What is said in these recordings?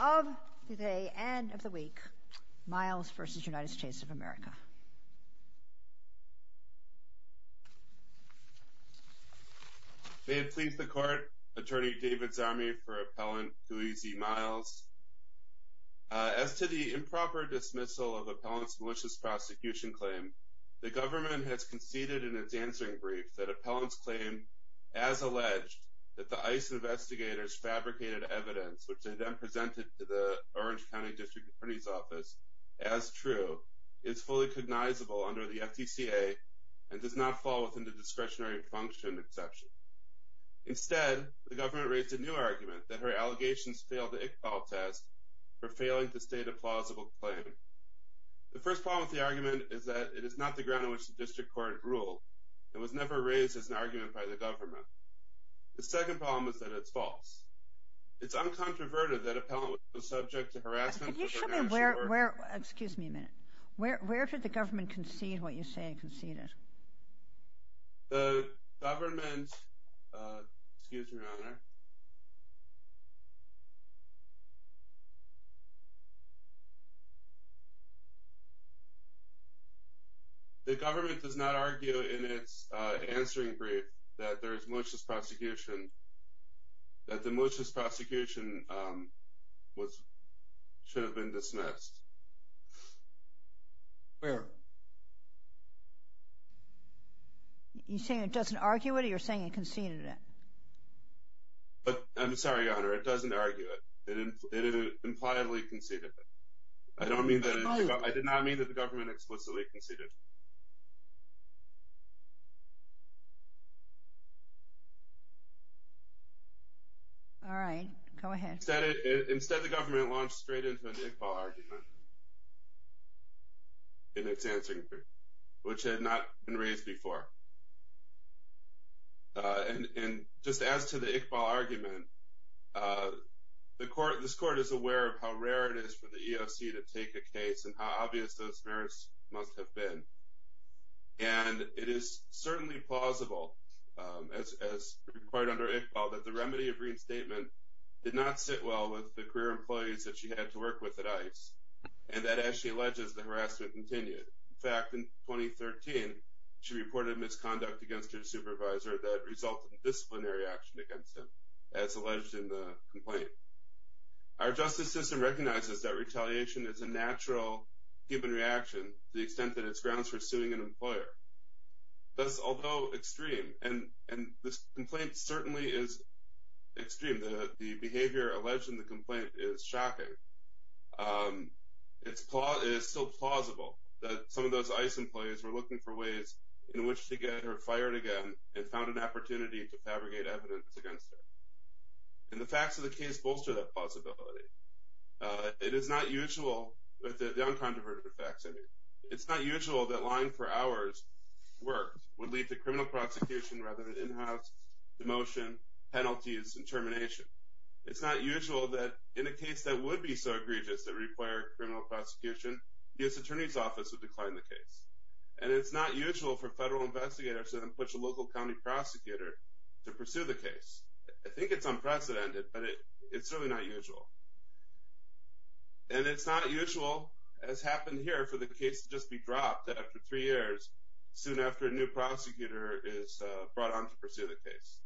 of today and of the week, Myles v. United States of America. May it please the Court, Attorney David Zami for Appellant Kui Z. Myles, As to the improper dismissal of Appellant's malicious prosecution claim, the government has conceded in its answering brief that Appellant's claim, as alleged, that the ICE investigators fabricated evidence, which they then presented to the Orange County District Attorney's Office, as true, is fully cognizable under the FTCA and does not fall within the discretionary function exception. Instead, the government raised a new argument that her allegations failed the Iqbal test for failing to state a plausible claim. The first problem with the argument is that it is not the ground on which the district court ruled and was never raised as an argument by the government. The second problem is that it's false. It's uncontroverted that Appellant was subject to harassment for financial or... Could you show me where, excuse me a minute, where did the government concede what you say it conceded? The government, excuse me, Your Honor. The government does not argue in its answering brief that there is malicious prosecution, that the malicious prosecution was, should have been dismissed. Where? You're saying it doesn't argue it or you're saying it conceded it? It doesn't argue it. But, I'm sorry, Your Honor, it doesn't argue it. It impliedly conceded it. I don't mean that, I did not mean that the government explicitly conceded it. All right, go ahead. Instead, the government launched straight into an Iqbal argument in its answering brief, which had not been raised before. And just as to the Iqbal argument, this court is aware of how rare it is for the EOC to take a case and how obvious those merits must have been. And it is certainly plausible, as required under Iqbal, that the remedy of reinstatement did not sit well with the career employees that she had to work with at ICE. And that, as she alleges, the harassment continued. In fact, in 2013, she reported misconduct against her supervisor that resulted in disciplinary action against him, as alleged in the complaint. Our justice system recognizes that retaliation is a natural human reaction to the extent that it's grounds for suing an employer. Thus, although extreme, and this complaint certainly is extreme, the behavior alleged in the complaint is shocking, it is still plausible that some of those ICE employees were looking for ways in which to get her fired again and found an opportunity to fabricate evidence against her. And the facts of the case bolster that possibility. It is not usual, with the uncontroverted facts, I mean, it's not usual that lying for hours worked would lead to criminal prosecution rather than in-house demotion, penalties, and termination. It's not usual that in a case that would be so egregious that required criminal prosecution, the U.S. Attorney's Office would decline the case. And it's not usual for federal investigators to then push a local county prosecutor to pursue the case. I think it's unprecedented, but it's certainly not usual. And it's not usual, as happened here, for the case to just be dropped after three years, soon after a new prosecutor is brought on to pursue the case.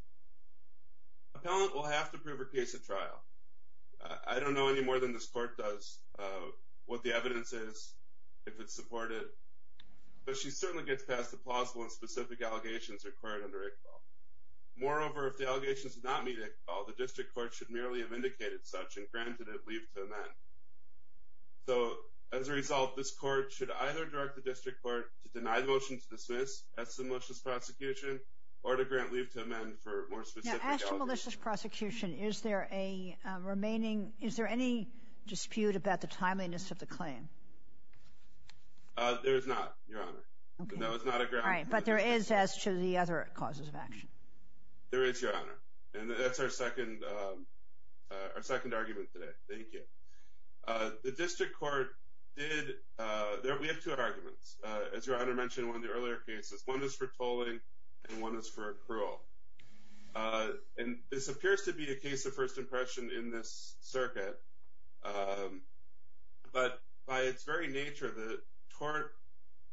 Appellant will have to prove her case at trial. I don't know any more than this court does what the evidence is, if it's supported, but she certainly gets past the plausible and specific allegations required under ICFAL. Moreover, if the allegations do not meet ICFAL, the district court should merely have indicated such and granted it leave to amend. So, as a result, this court should either direct the district court to deny the motion to dismiss, that's the malicious prosecution, or to grant leave to amend for more specific allegations. Now, as to malicious prosecution, is there a remaining, is there any dispute about the timeliness of the claim? There is not, Your Honor. Okay. That was not a ground. Right, but there is as to the other causes of action. There is, Your Honor. And that's our second argument today. Thank you. The district court did, we have two arguments. As Your Honor mentioned in one of the earlier cases, one is for tolling and one is for accrual. And this appears to be a case of first impression in this circuit, but by its very nature, the tort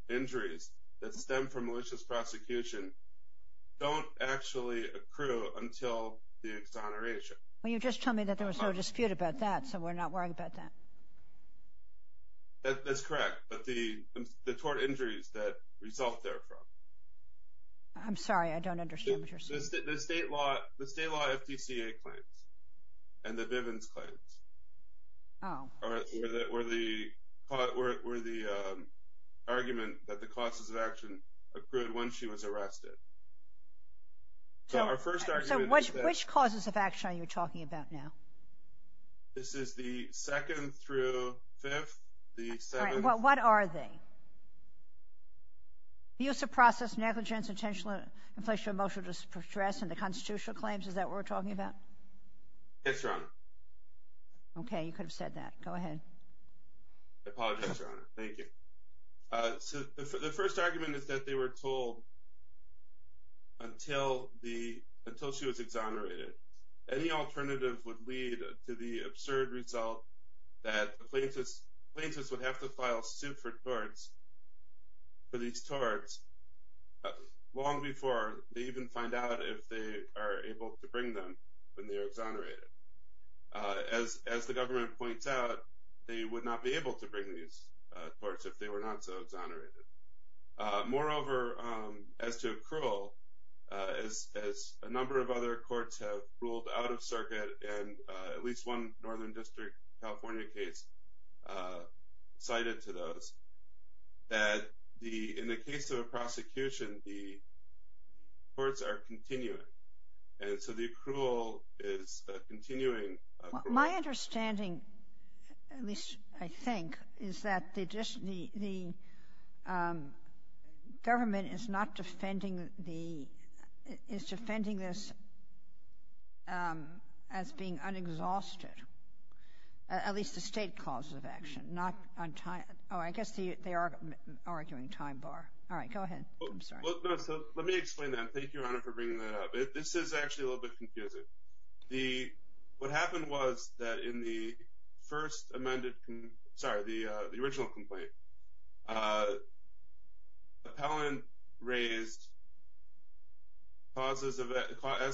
injuries that stem from malicious prosecution don't actually accrue until the exoneration. Well, you just told me that there was no dispute about that, so we're not worried about that. That's correct, but the tort injuries that result therefrom. I'm sorry, I don't understand what you're saying. The state law FTCA claims and the Bivens claims were the argument that the causes of action accrued once she was arrested. So, which causes of action are you talking about now? This is the second through fifth, the seventh. All right, well, what are they? The use of process, negligence, intentional inflation, emotional distress, and the constitutional claims. Is that what we're talking about? Yes, Your Honor. Okay, you could have said that. Go ahead. I apologize, Your Honor. Thank you. So, the first argument is that they were told until she was exonerated. Any alternative would lead to the absurd result that plaintiffs would have to file suit for these torts long before they even find out if they are able to bring them when they are exonerated. As the government points out, they would not be able to bring these torts if they were not so exonerated. Moreover, as to accrual, as a number of other courts have ruled out of circuit, and at least one Northern District California case cited to those, that in the case of a prosecution, the courts are continuing. And so, the accrual is continuing. My understanding, at least I think, is that the government is not defending the, is defending this as being unexhausted, at least the state cause of action, not on time. Oh, I guess they are arguing time bar. All right, go ahead. I'm sorry. Let me explain that. Thank you, Your Honor, for bringing that up. This is actually a little bit confusing. What happened was that in the first amended, sorry, the original complaint, Appellant raised, as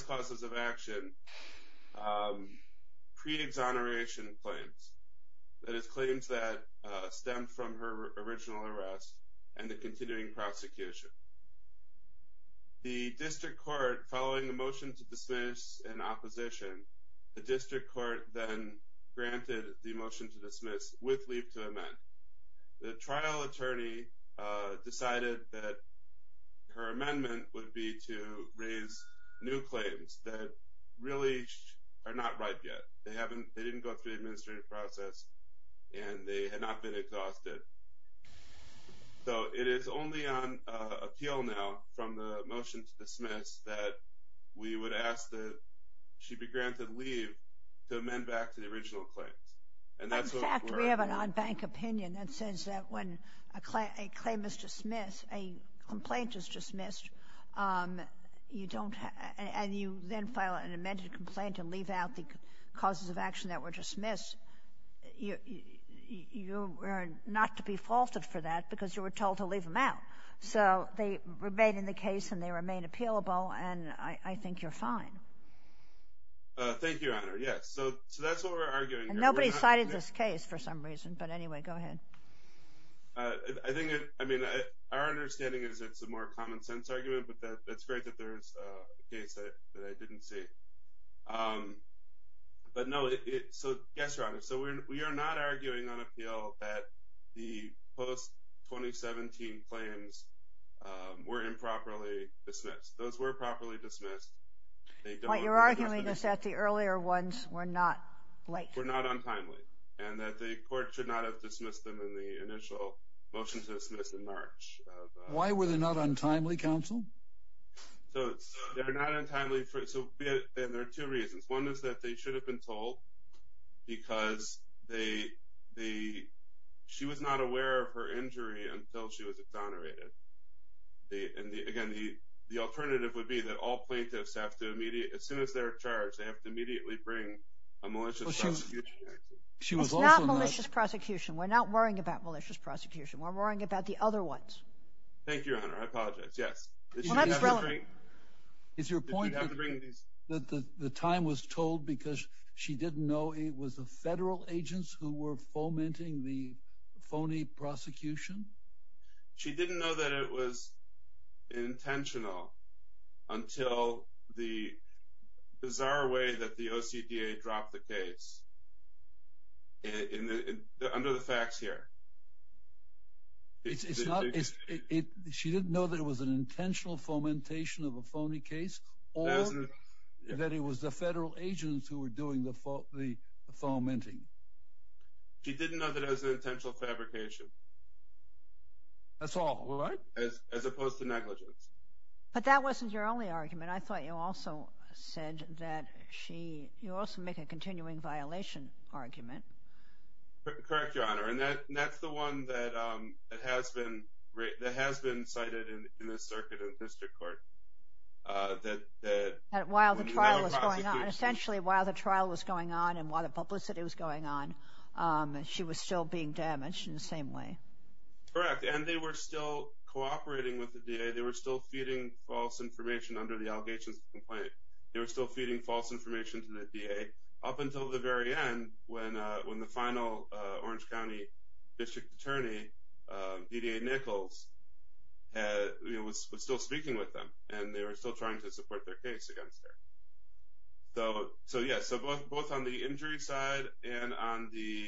causes of action, pre-exoneration claims. That is, claims that stem from her original arrest and the continuing prosecution. The district court, following the motion to dismiss in opposition, the district court then granted the motion to dismiss with leave to amend. The trial attorney decided that her amendment would be to raise new claims that really are not right yet. They didn't go through the administrative process, and they had not been exhausted. So it is only on appeal now, from the motion to dismiss, that we would ask that she be granted leave to amend back to the original claims. In fact, we have an on-bank opinion that says that when a claim is dismissed, a complaint is dismissed, and you then file an amended complaint and leave out the causes of action that were dismissed, you are not to be faulted for that because you were told to leave them out. So they remain in the case, and they remain appealable, and I think you're fine. Thank you, Your Honor. Yes. So that's what we're arguing here. Nobody cited this case for some reason, but anyway, go ahead. I think, I mean, our understanding is it's a more common sense argument, but that's great that there's a case that I didn't see. But no, so yes, Your Honor, so we are not arguing on appeal that the post-2017 claims were improperly dismissed. Those were properly dismissed. What you're arguing is that the earlier ones were not late. Were not untimely, and that the court should not have dismissed them in the initial motion to dismiss in March. Why were they not untimely, counsel? So they're not untimely, and there are two reasons. One is that they should have been told because they, she was not aware of her injury until she was exonerated. And again, the alternative would be that all plaintiffs have to immediately, as soon as they're charged, they have to immediately bring a malicious prosecution. It's not malicious prosecution. We're not worrying about malicious prosecution. We're worrying about the other ones. Thank you, Your Honor. I apologize. Yes. Well, that's relevant. It's your point that the time was told because she didn't know it was the federal agents who were fomenting the phony prosecution? She didn't know that it was intentional until the bizarre way that the OCDA dropped the case under the facts here. She didn't know that it was an intentional fomentation of a phony case or that it was the federal agents who were doing the fomenting? She didn't know that it was an intentional fabrication. That's all. As opposed to negligence. But that wasn't your only argument. I thought you also said that she, you also make a continuing violation argument. Correct, Your Honor. One that has been cited in the circuit of the district court. While the trial was going on. Essentially, while the trial was going on and while the publicity was going on, she was still being damaged in the same way. Correct. And they were still cooperating with the DA. They were still feeding false information under the allegations of complaint. They were still feeding false information to the DA up until the very end when the final Orange County District Attorney, D.D. Nichols, was still speaking with them and they were still trying to support their case against her. So, yes, both on the injury side and on the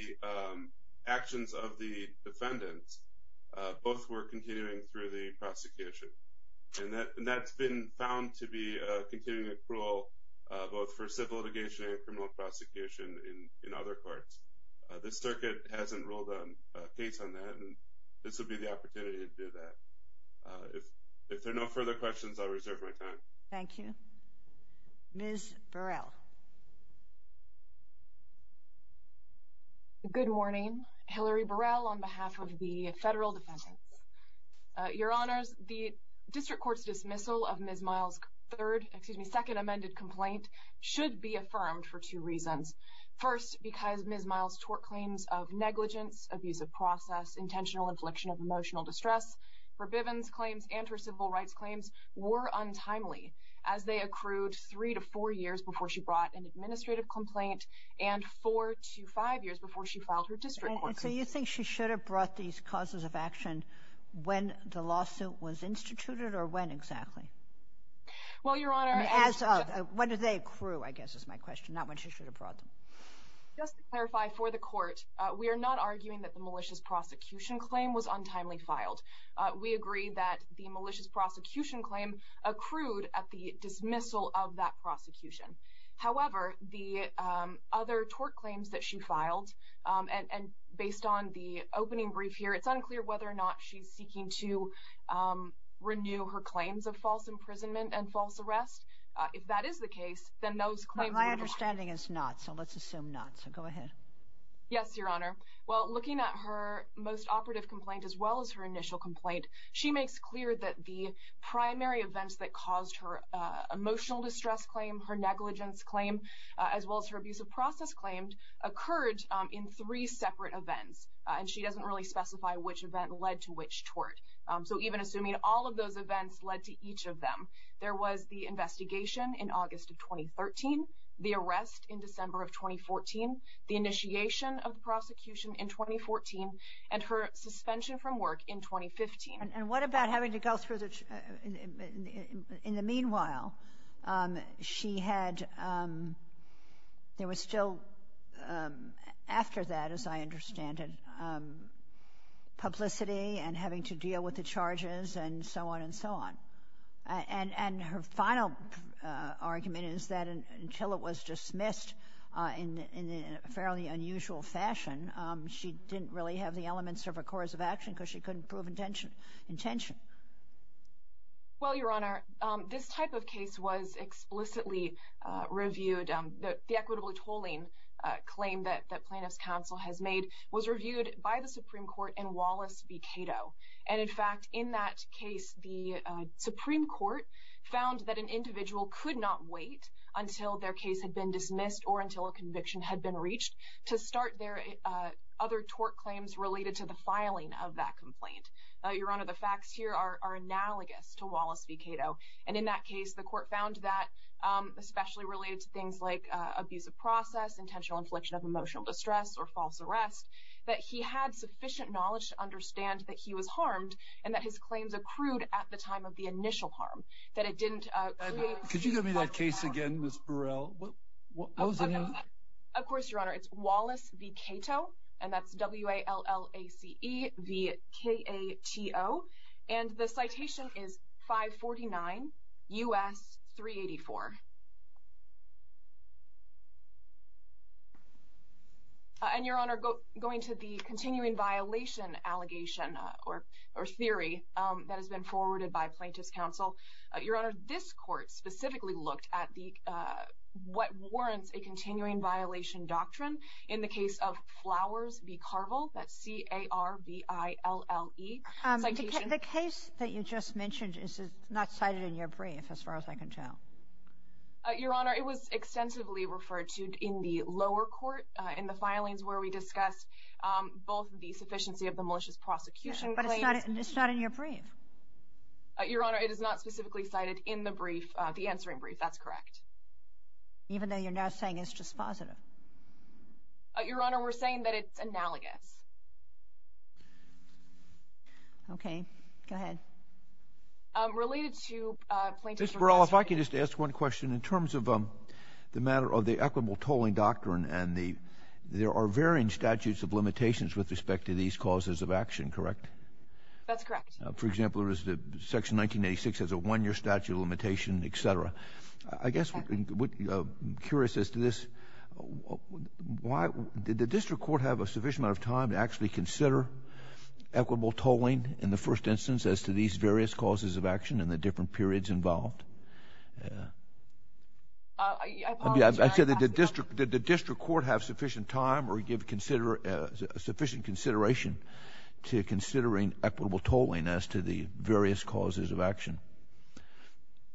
actions of the defendants, both were continuing through the prosecution. And that's been found to be a continuing accrual both for civil litigation and criminal prosecution in other courts. This circuit hasn't ruled a case on that and this would be the opportunity to do that. If there are no further questions, I'll reserve my time. Thank you. Ms. Burrell. Good morning. Hillary Burrell on behalf of the federal defendants. Your Honors, the district court's dismissal of Ms. Miles' second amended complaint should be affirmed for two reasons. First, because Ms. Miles' tort claims of negligence, abusive process, intentional infliction of emotional distress for Bivens' claims and her civil rights claims were untimely as they accrued three to four years before she brought an administrative complaint and four to five years before she filed her district court claim. And so you think she should have brought these causes of action when the lawsuit was instituted or when exactly? Well, Your Honor... As of. When did they accrue, I guess is my question, not when she should have brought them. Just to clarify for the court, we are not arguing that the malicious prosecution claim was untimely filed. We agree that the malicious prosecution claim accrued at the dismissal of that prosecution. However, the other tort claims that she filed it's unclear whether or not she's seeking to renew her claims of false imprisonment and false arrest. If that is the case, then those claims... My understanding is not, so let's assume not. So go ahead. Yes, Your Honor. Well, looking at her most operative complaint as well as her initial complaint, she makes clear that the primary events that caused her emotional distress claim, her negligence claim, as well as her abusive process claim occurred in three separate events and she doesn't really specify which event led to which tort. She doesn't list each of them. There was the investigation in August of 2013, the arrest in December of 2014, the initiation of the prosecution in 2014, and her suspension from work in 2015. And what about having to go through the... In the meanwhile, she had... There was still, after that, as I understand it, publicity and having to deal with the charges and so on and so on. And her final argument is that until it was dismissed in a fairly unusual fashion, she didn't really have the elements of a cause of action because she couldn't prove intention. Well, Your Honor, this type of case was explicitly reviewed. The equitable tolling claim that plaintiff's counsel has made was reviewed by the Supreme Court and Wallace v. Cato. And in fact, in that case, the Supreme Court found that an individual could not wait until their case had been dismissed or until a conviction had been reached to start their other tort claims related to the filing of that complaint. Your Honor, the facts here are analogous to Wallace v. Cato. And in that case, the court found that, especially related to things like abusive process, intentional infliction of emotional distress, or false arrest, that he had sufficient knowledge to understand that he was harmed and that his claims accrued at the time of the initial harm, that it didn't create... Could you give me that case again, Ms. Burrell? Of course, Your Honor. It's Wallace v. Cato, and that's W-A-L-L-A-C-E-V-K-A-T-O. And the citation is 549 U.S. 384. And, Your Honor, going to the continuing violation allegation or theory that has been forwarded by plaintiff's counsel, Your Honor, this court specifically looked at what warrants a continuing violation doctrine in the case of Flowers v. Carville, that's C-A-R-V-I-L-L-E. The case that you just mentioned is not cited in your brief, as far as I can tell. Your Honor, it was extensively referred to in the lower court, in the filings where we discussed both the sufficiency of the malicious prosecution claims... But it's not in your brief. Your Honor, it is not specifically cited in the brief, the answering brief. That's correct. Even though you're now saying it's just positive. Your Honor, we're saying that it's analogous. Okay. Go ahead. Related to plaintiff's... Ms. Burrell, if I could just ask one question. In terms of the matter of the equitable tolling doctrine and the, there are varying statutes of limitations with respect to these causes of action, correct? That's correct. For example, there is the Section 1986 has a one-year statute of limitation, et cetera. I guess I'm curious as to this. Why? Did the district court have a sufficient amount of time to actually consider equitable tolling in the first instance as to these various causes of action and the different periods involved? I apologize. I said, did the district court have sufficient time or give sufficient consideration to considering equitable tolling as to the various causes of action?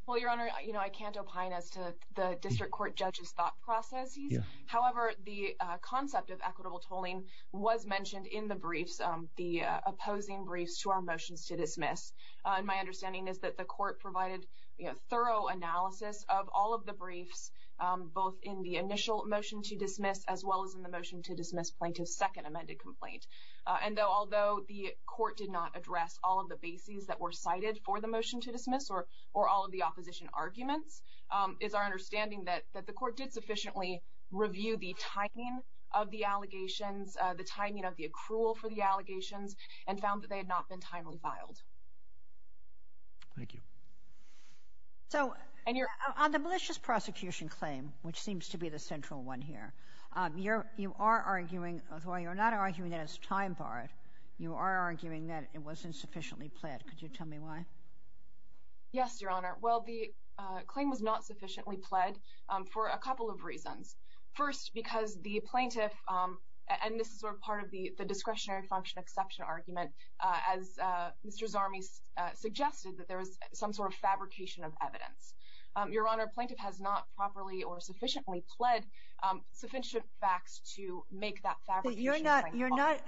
Well, Your Honor, I can't opine as to the district court judge's thought processes. However, the concept of equitable tolling was mentioned in the briefs, the opposing briefs to our motions to dismiss. And my understanding is that the court provided thorough analysis of all of the briefs, both in the initial motion to dismiss as well as in the motion to dismiss plaintiff's second amended complaint. And although the court did not address all of the bases that were cited for the motion to dismiss or all of the opposition arguments, it's our understanding that the court did sufficiently review the timing of the allegations, the timing of the accrual for the allegations and found that they had not been timely filed. Thank you. So on the malicious prosecution claim, which seems to be the central one here, you are arguing, although you're not arguing that it's time-barred, you are arguing that it wasn't sufficiently pled. Could you tell me why? Yes, Your Honor. Well, the claim was not sufficiently pled for a couple of reasons. First, because the plaintiff, and this is sort of part of the discretionary function exception argument, as Mr. Zarmi suggested, that there is some sort of fabrication of evidence. Your Honor, plaintiff has not properly or sufficiently pled sufficient facts to make that fabrication claim possible. You're not,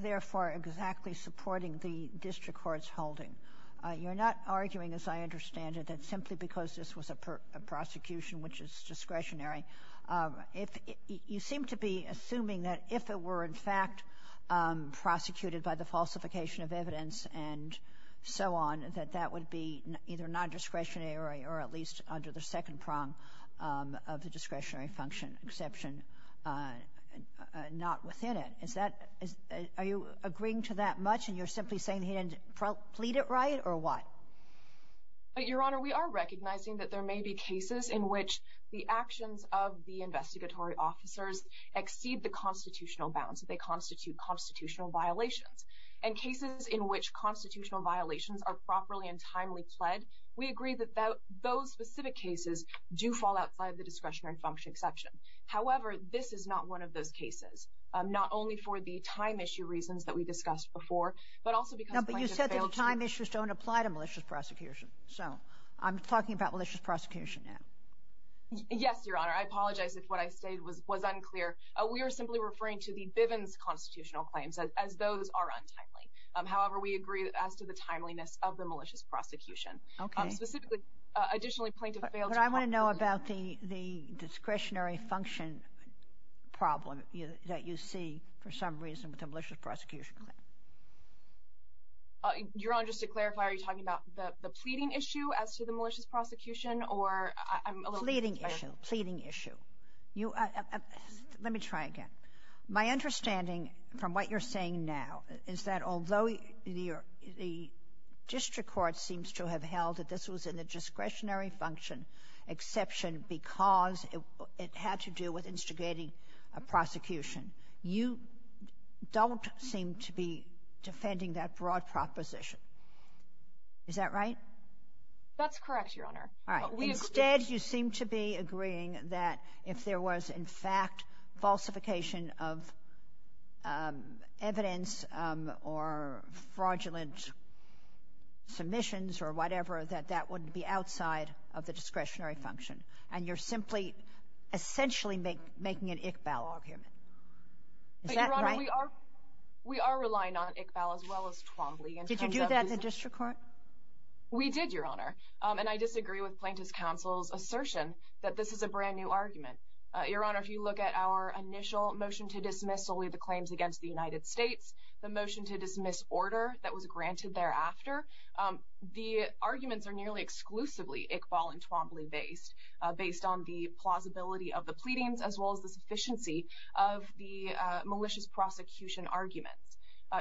therefore, exactly supporting the district court's holding. You're not arguing, as I understand it, that simply because this was a prosecution, which is discretionary, you seem to be assuming that if it were in fact prosecuted by the falsification of evidence and so on, that that would be either nondiscretionary or at least under the second prong of the discretionary function exception, not within it. Are you agreeing to that much, and you're simply saying he didn't plead it right, or what? Your Honor, we are recognizing that there may be cases in which the actions of the investigatory officers exceed the constitutional bounds. They constitute constitutional violations. And cases in which constitutional violations are properly and timely pled, we agree that those specific cases do fall outside the discretionary function exception. However, this is not one of those cases, not only for the time issue reasons that we discussed before, but also because plaintiff failed to... No, but you said that the time issues don't apply to malicious prosecution, so I'm talking about malicious prosecution now. Yes, Your Honor. We are not talking about the time issue here. We are simply referring to the Bivens constitutional claims as those are untimely. However, we agree as to the timeliness of the malicious prosecution. Specifically, additionally, plaintiff failed to... But I want to know about the discretionary function problem that you see for some reason with the malicious prosecution. Your Honor, just to clarify, are you talking about the pleading issue as to the malicious prosecution, or are you talking about... Let me try again. My understanding from what you're saying now is that although the district court seems to have held that this was in the discretionary function exception because it had to do with instigating a prosecution, you don't seem to be defending that broad proposition. Is that right? That's correct, Your Honor. All right. Instead, you seem to be agreeing that if there was in fact a falsification of evidence or fraudulent submissions or whatever, that that would be outside of the discretionary function, and you're simply essentially making an Iqbal argument. Is that right? Your Honor, we are relying on Iqbal as well as Twombly in terms of... Did you do that in the district court? We did, Your Honor, and I disagree with Plaintiff's Counsel's assertion that this is a brand new argument. The initial motion to dismiss solely the claims against the United States, the motion to dismiss order that was granted thereafter, the arguments are nearly exclusively Iqbal and Twombly based, based on the plausibility of the pleadings as well as the sufficiency of the malicious prosecution arguments.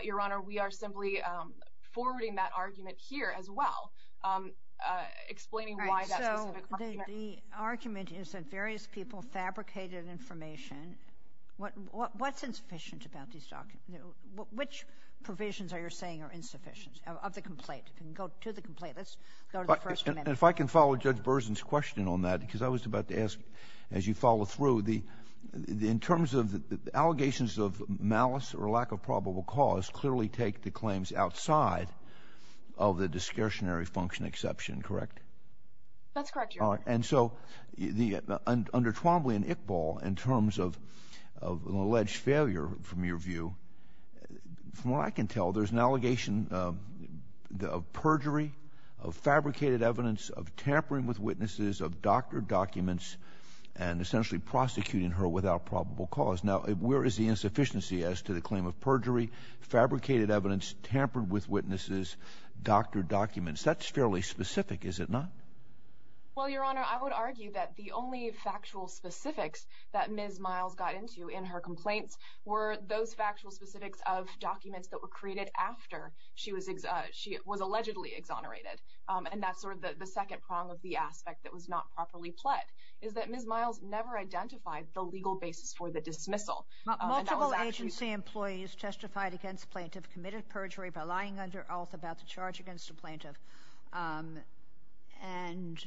Your Honor, we are simply forwarding that argument here as well, explaining why that specific... All right, so the argument is that various people fabricated information. What's insufficient about these documents? Which provisions are you saying are insufficient of the complaint? Go to the complaint. Let's go to the first amendment. If I can follow Judge Berzin's question on that, because I was about to ask as you follow through, in terms of allegations of malice or lack of probable cause clearly take the claims outside of the discretionary function exception, correct? That's correct, Your Honor. And so under Twombly and Iqbal, in terms of an alleged failure, from your view, from what I can tell, there's an allegation of perjury, of fabricated evidence, of tampering with witnesses, of doctored documents, and essentially prosecuting her without probable cause. Now, where is the insufficiency as to the claim of perjury, fabricated evidence, tampered with witnesses, doctored documents? That's fairly specific, is it not? Well, Your Honor, I would argue that the only factual specifics that Ms. Miles got into in her complaints were those factual specifics of documents that were created after she was allegedly exonerated. And that's sort of the second prong of the aspect that was not properly pled, is that Ms. Miles never identified the legal basis for the dismissal. Multiple agency employees testified against plaintiff committed perjury by lying under oath about the charge against the plaintiff and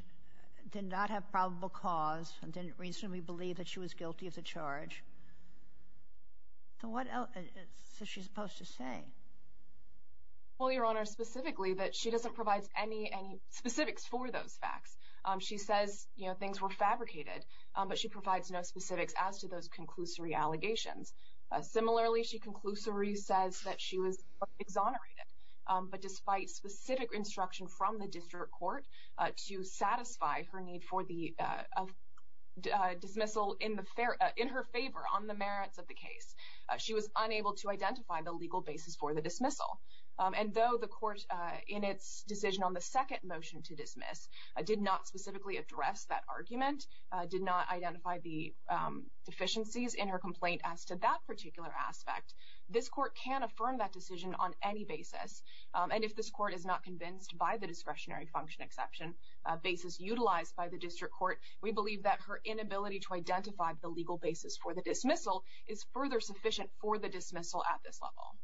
did not have probable cause and didn't reasonably believe that she was guilty of the charge. So what else is she supposed to say? Well, Your Honor, specifically that she doesn't provide any specifics for those facts. She says things were fabricated, but she provides no specifics as to those conclusory allegations. Similarly, she conclusively says that she was exonerated, but despite specific instruction from the district court to satisfy her need for the dismissal in her favor on the merits of the case, she was unable to identify the legal basis for the dismissal. And though the court, in its decision on the second motion to dismiss, did not specifically address that argument, did not identify the deficiencies in her complaint as to that particular aspect, this court can affirm that decision on any basis. And if this court is not convinced by the discretionary function exception basis utilized by the district court, we believe that her inability to identify the legal basis for the dismissal is further sufficient for the dismissal at this level.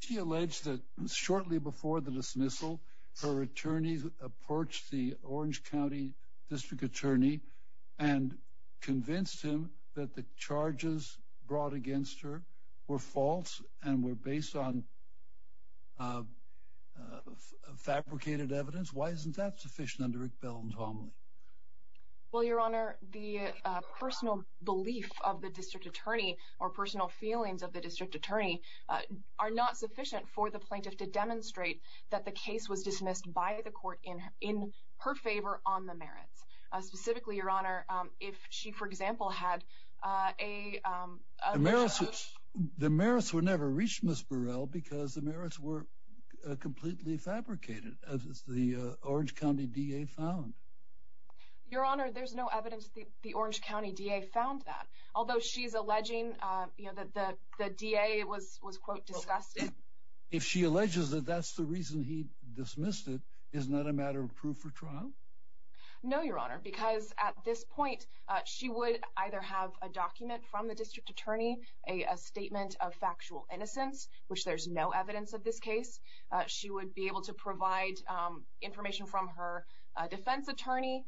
She alleged that shortly before the dismissal, her attorney approached the Orange County district attorney and convinced him that the charges brought against her were false and were based on fabricated evidence. Why isn't that sufficient under Rick Bell's homily? Well, Your Honor, the personal belief of the district attorney or personal feelings of the district attorney are not sufficient for the plaintiff to demonstrate that the case was dismissed by the court in her favor on the merits. Specifically, Your Honor, if she, for example, had a... The merits were never reached, Ms. Burrell, because the merits were completely fabricated, as the Orange County DA found. Your Honor, there's no evidence that the Orange County DA found that, although she's alleging that the DA was, quote, disgusted. If she alleges that that's the reason he dismissed it, isn't that a matter of proof for trial? No, Your Honor, because at this point she would either have a document from the district attorney, a statement of factual innocence, which there's no evidence of this case. She would be able to provide information from her defense attorney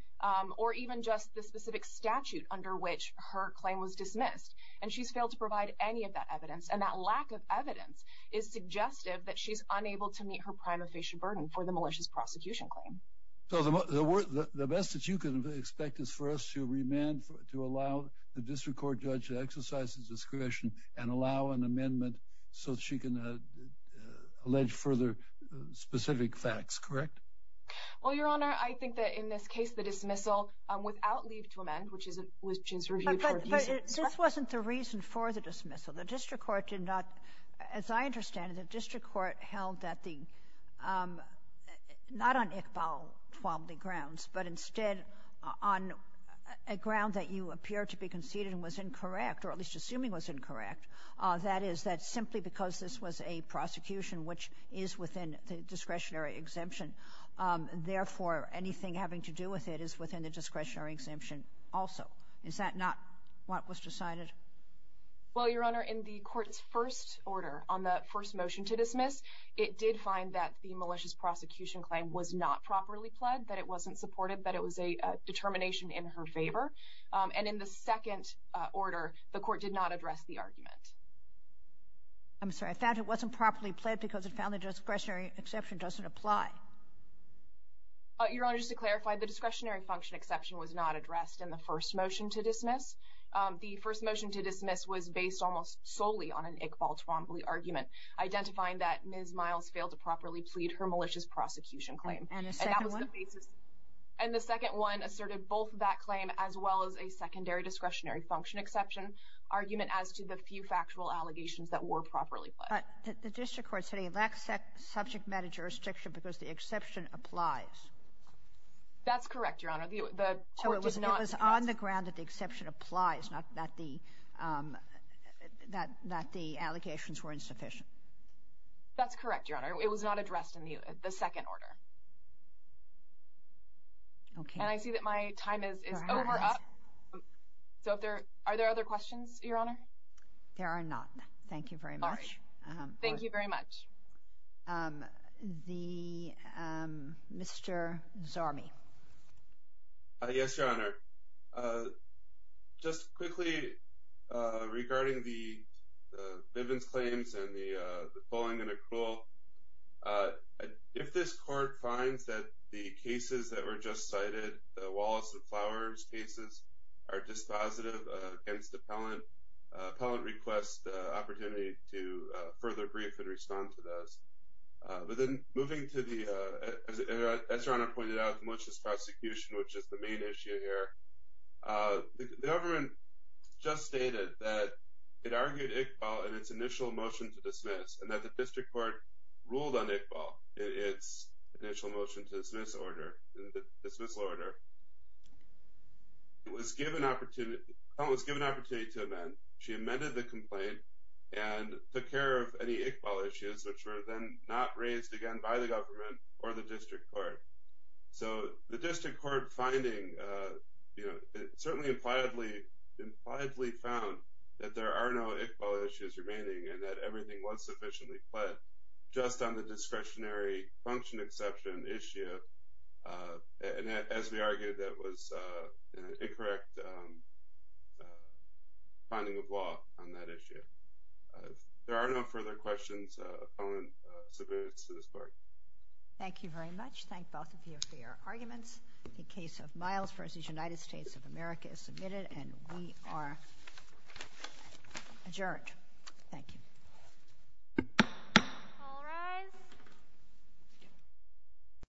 or even just the specific statute under which her claim was dismissed, and she's failed to provide any of that evidence, and that lack of evidence is suggestive that she's unable to meet her prima facie burden for the malicious prosecution claim. So the best that you can expect is for us to remand, to allow the district court judge to exercise his discretion and allow an amendment so that she can allege further specific facts, correct? Well, Your Honor, I think that in this case, the dismissal without leave to amend, which is reviewed for appeasement... But this wasn't the reason for the dismissal. The district court did not... As I understand it, not on Iqbal Twombly grounds, but instead on a ground that you appear to be conceding was incorrect, or at least assuming was incorrect. That is, that simply because this was a prosecution which is within the discretionary exemption, therefore, anything having to do with it is within the discretionary exemption also. Is that not what was decided? Well, Your Honor, in the court's first order on the first motion to dismiss, it did find that the malicious prosecution claim was not properly pled, that it wasn't supported, that it was a determination in her favor. And in the second order, the court did not address the argument. I'm sorry. I thought it wasn't properly pled because it found the discretionary exception doesn't apply. Your Honor, just to clarify, the discretionary function exception was not addressed in the first motion to dismiss. The first motion to dismiss was that Ms. Miles failed to properly plead her malicious prosecution claim. And the second one? And the second one asserted both that claim as well as a secondary discretionary function exception argument as to the few factual allegations that were properly pled. But the district court said it lacks subject matter jurisdiction because the exception applies. That's correct, Your Honor. So it was on the ground that the exception applies, not that the allegations were insufficient. That's correct, Your Honor. It was not addressed in the second order. Okay. And I see that my time is over up. So are there other questions, Your Honor? There are not. Thank you very much. All right. Thank you very much. Mr. Zarmi. Yes, Your Honor. Just quickly, regarding the Bivens claims and the pulling and accrual, if this court finds that the cases that were just cited, the Wallace and Flowers cases, are dispositive against appellant, appellant requests the opportunity to further brief and respond to those. But then moving to the, as Your Honor pointed out, the malicious prosecution, which is the main issue here, the government just stated that it argued Iqbal in its initial motion to dismiss and that the district court ruled on Iqbal in its initial motion to dismiss order, dismissal order. Appellant was given opportunity to amend. She amended the complaint and took care of any Iqbal issues which were then not raised again by the government or the district court. So the district court finding, you know, it certainly impliedly, impliedly found that there are no Iqbal issues remaining and that everything was sufficiently fled just on the discretionary function exception issue and as we argued that was an incorrect finding of law on that issue. There are no further questions of appellant subpoenas to this court. Thank you very much. Thank you both of you for your arguments. The case of Miles v. United States of America is submitted and we are adjourned. Thank you. All rise.